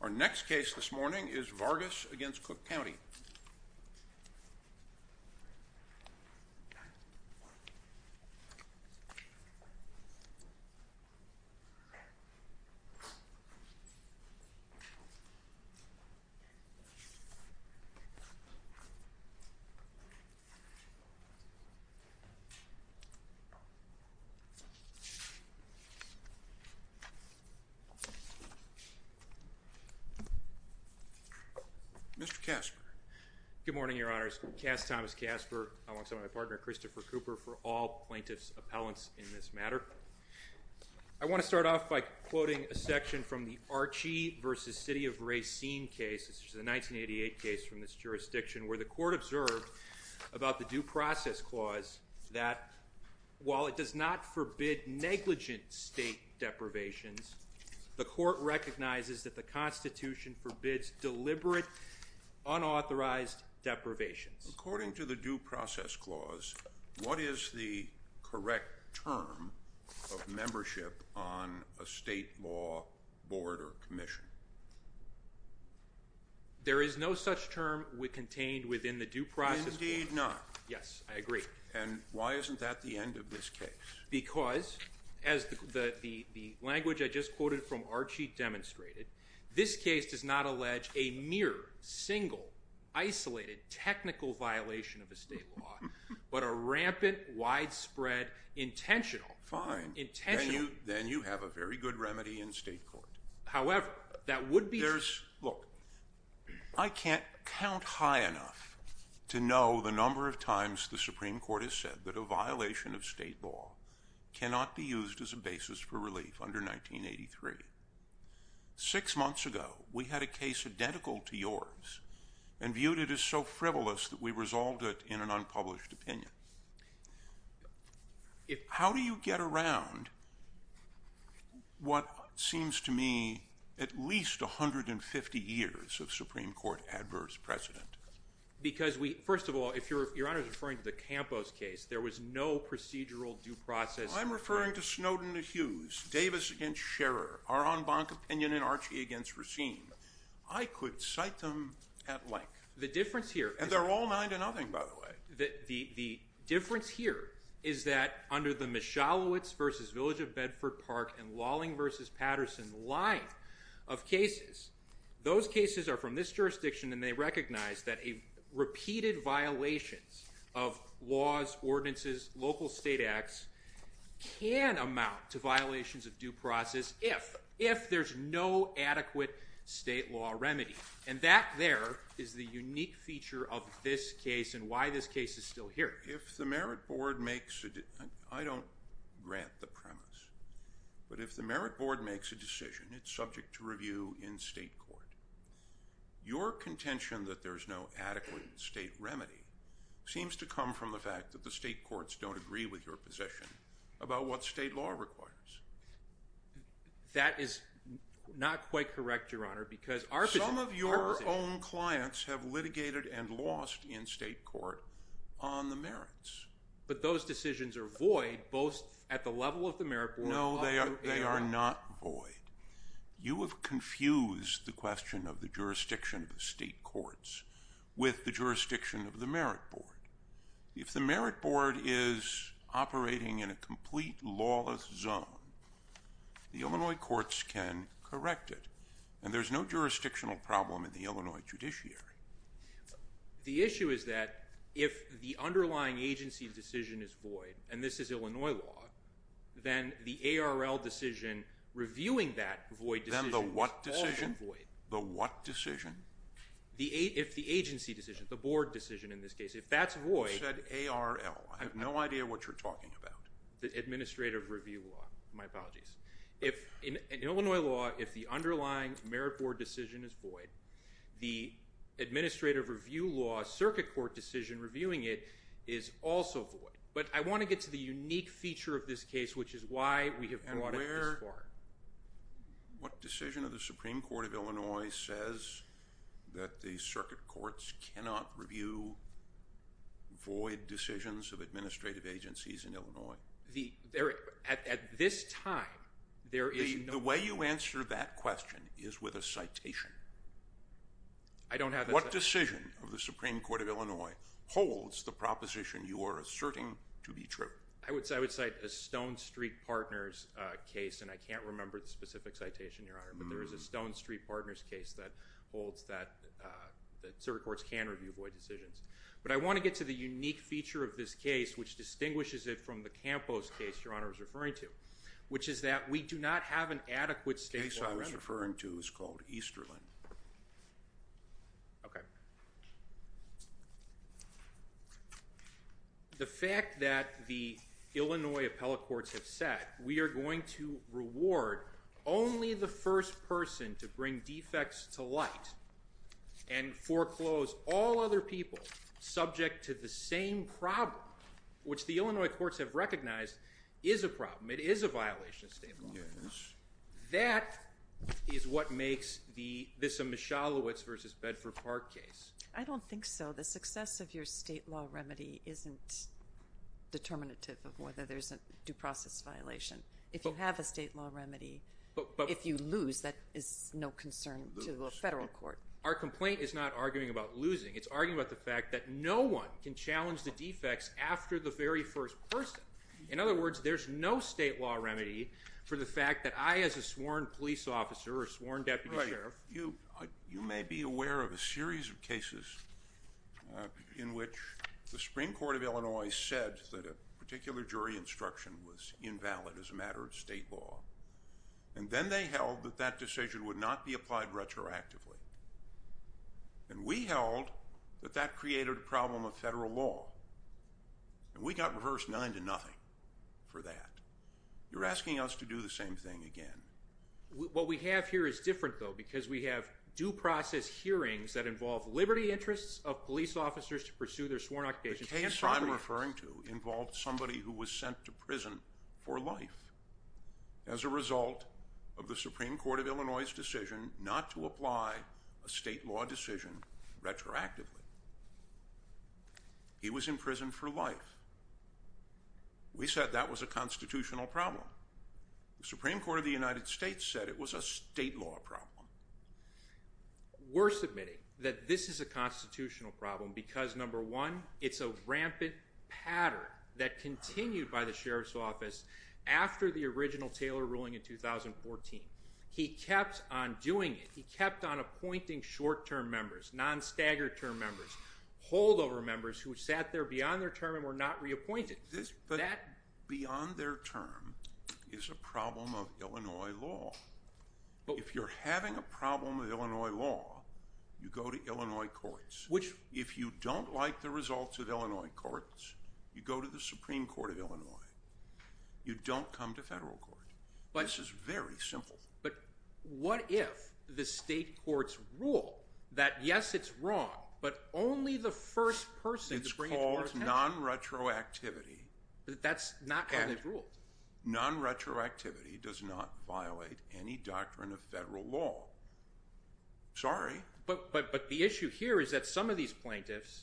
Our next case this morning is Vargas v. Cook County. I want to start off by quoting a section from the Archie v. City of Racine case, which is a 1988 case from this jurisdiction, where the court observed about the Due Process Clause that, while it does not forbid negligent state deprivations, it does not prohibit state deprivations. The court recognizes that the Constitution forbids deliberate, unauthorized deprivations. According to the Due Process Clause, what is the correct term of membership on a state law board or commission? There is no such term contained within the Due Process Clause. Indeed not. Yes, I agree. And why isn't that the end of this case? Because, as the language I just quoted from Archie demonstrated, this case does not allege a mere, single, isolated, technical violation of a state law, but a rampant, widespread, intentional. Fine. Intentional. Then you have a very good remedy in state court. Look, I can't count high enough to know the number of times the Supreme Court has said that a violation of state law cannot be used as a basis for relief under 1983. Six months ago, we had a case identical to yours and viewed it as so frivolous that we resolved it in an unpublished opinion. How do you get around what seems to me at least 150 years of Supreme Court adverse precedent? Because we – first of all, if Your Honor is referring to the Campos case, there was no procedural due process. I'm referring to Snowden v. Hughes, Davis v. Scherer, our en banc opinion, and Archie v. Racine. I could cite them at length. The difference here is – And they're all nine to nothing, by the way. The difference here is that under the Mischalowitz v. Village of Bedford Park and Lawling v. Patterson line of cases, those cases are from this jurisdiction and they recognize that repeated violations of laws, ordinances, local state acts, can amount to violations of due process if there's no adequate state law remedy. And that there is the unique feature of this case and why this case is still here. If the Merit Board makes – I don't grant the premise, but if the Merit Board makes a decision, it's subject to review in state court. Your contention that there's no adequate state remedy seems to come from the fact that the state courts don't agree with your position about what state law requires. That is not quite correct, Your Honor, because our position – Some of your own clients have litigated and lost in state court on the merits. But those decisions are void both at the level of the Merit Board – No, they are not void. You have confused the question of the jurisdiction of the state courts with the jurisdiction of the Merit Board. If the Merit Board is operating in a complete lawless zone, the Illinois courts can correct it. And there's no jurisdictional problem in the Illinois judiciary. The issue is that if the underlying agency decision is void, and this is Illinois law, then the ARL decision reviewing that void decision is also void. Then the what decision? The what decision? If the agency decision, the board decision in this case, if that's void – You said ARL. I have no idea what you're talking about. The administrative review law. My apologies. In Illinois law, if the underlying Merit Board decision is void, the administrative review law circuit court decision reviewing it is also void. But I want to get to the unique feature of this case, which is why we have brought it this far. What decision of the Supreme Court of Illinois says that the circuit courts cannot review void decisions of administrative agencies in Illinois? At this time, there is no – The way you answer that question is with a citation. I don't have that citation. What decision of the Supreme Court of Illinois holds the proposition you are asserting to be true? I would cite a Stone Street Partners case, and I can't remember the specific citation, Your Honor, but there is a Stone Street Partners case that holds that circuit courts can review void decisions. But I want to get to the unique feature of this case, which distinguishes it from the Campos case Your Honor is referring to, which is that we do not have an adequate statewide remedy. The case I was referring to is called Easterland. Okay. The fact that the Illinois appellate courts have said we are going to reward only the first person to bring defects to light and foreclose all other people subject to the same problem, which the Illinois courts have recognized is a problem, it is a violation of state law, that is what makes this a Mischalowitz v. Bedford Park case. I don't think so. The success of your state law remedy isn't determinative of whether there is a due process violation. If you have a state law remedy, if you lose, that is no concern to the federal court. Our complaint is not arguing about losing. It's arguing about the fact that no one can challenge the defects after the very first person. In other words, there's no state law remedy for the fact that I, as a sworn police officer or sworn deputy sheriff. You may be aware of a series of cases in which the Supreme Court of Illinois said that a particular jury instruction was invalid as a matter of state law. And then they held that that decision would not be applied retroactively. And we held that that created a problem of federal law. And we got reversed nine to nothing for that. You're asking us to do the same thing again. What we have here is different, though, because we have due process hearings that involve liberty interests of police officers to pursue their sworn occupation. The case I'm referring to involved somebody who was sent to prison for life as a result of the Supreme Court of Illinois' decision not to apply a state law decision retroactively. He was in prison for life. We said that was a constitutional problem. The Supreme Court of the United States said it was a state law problem. We're submitting that this is a constitutional problem because, number one, it's a rampant pattern that continued by the sheriff's office after the original Taylor ruling in 2014. He kept on doing it. He kept on appointing short-term members, non-staggered term members, holdover members who sat there beyond their term and were not reappointed. But beyond their term is a problem of Illinois law. If you're having a problem with Illinois law, you go to Illinois courts. If you don't like the results of Illinois courts, you go to the Supreme Court of Illinois. You don't come to federal court. This is very simple. But what if the state courts rule that, yes, it's wrong, but only the first person to bring it to court attention? It's called non-retroactivity. But that's not how they've ruled. Non-retroactivity does not violate any doctrine of federal law. Sorry. But the issue here is that some of these plaintiffs—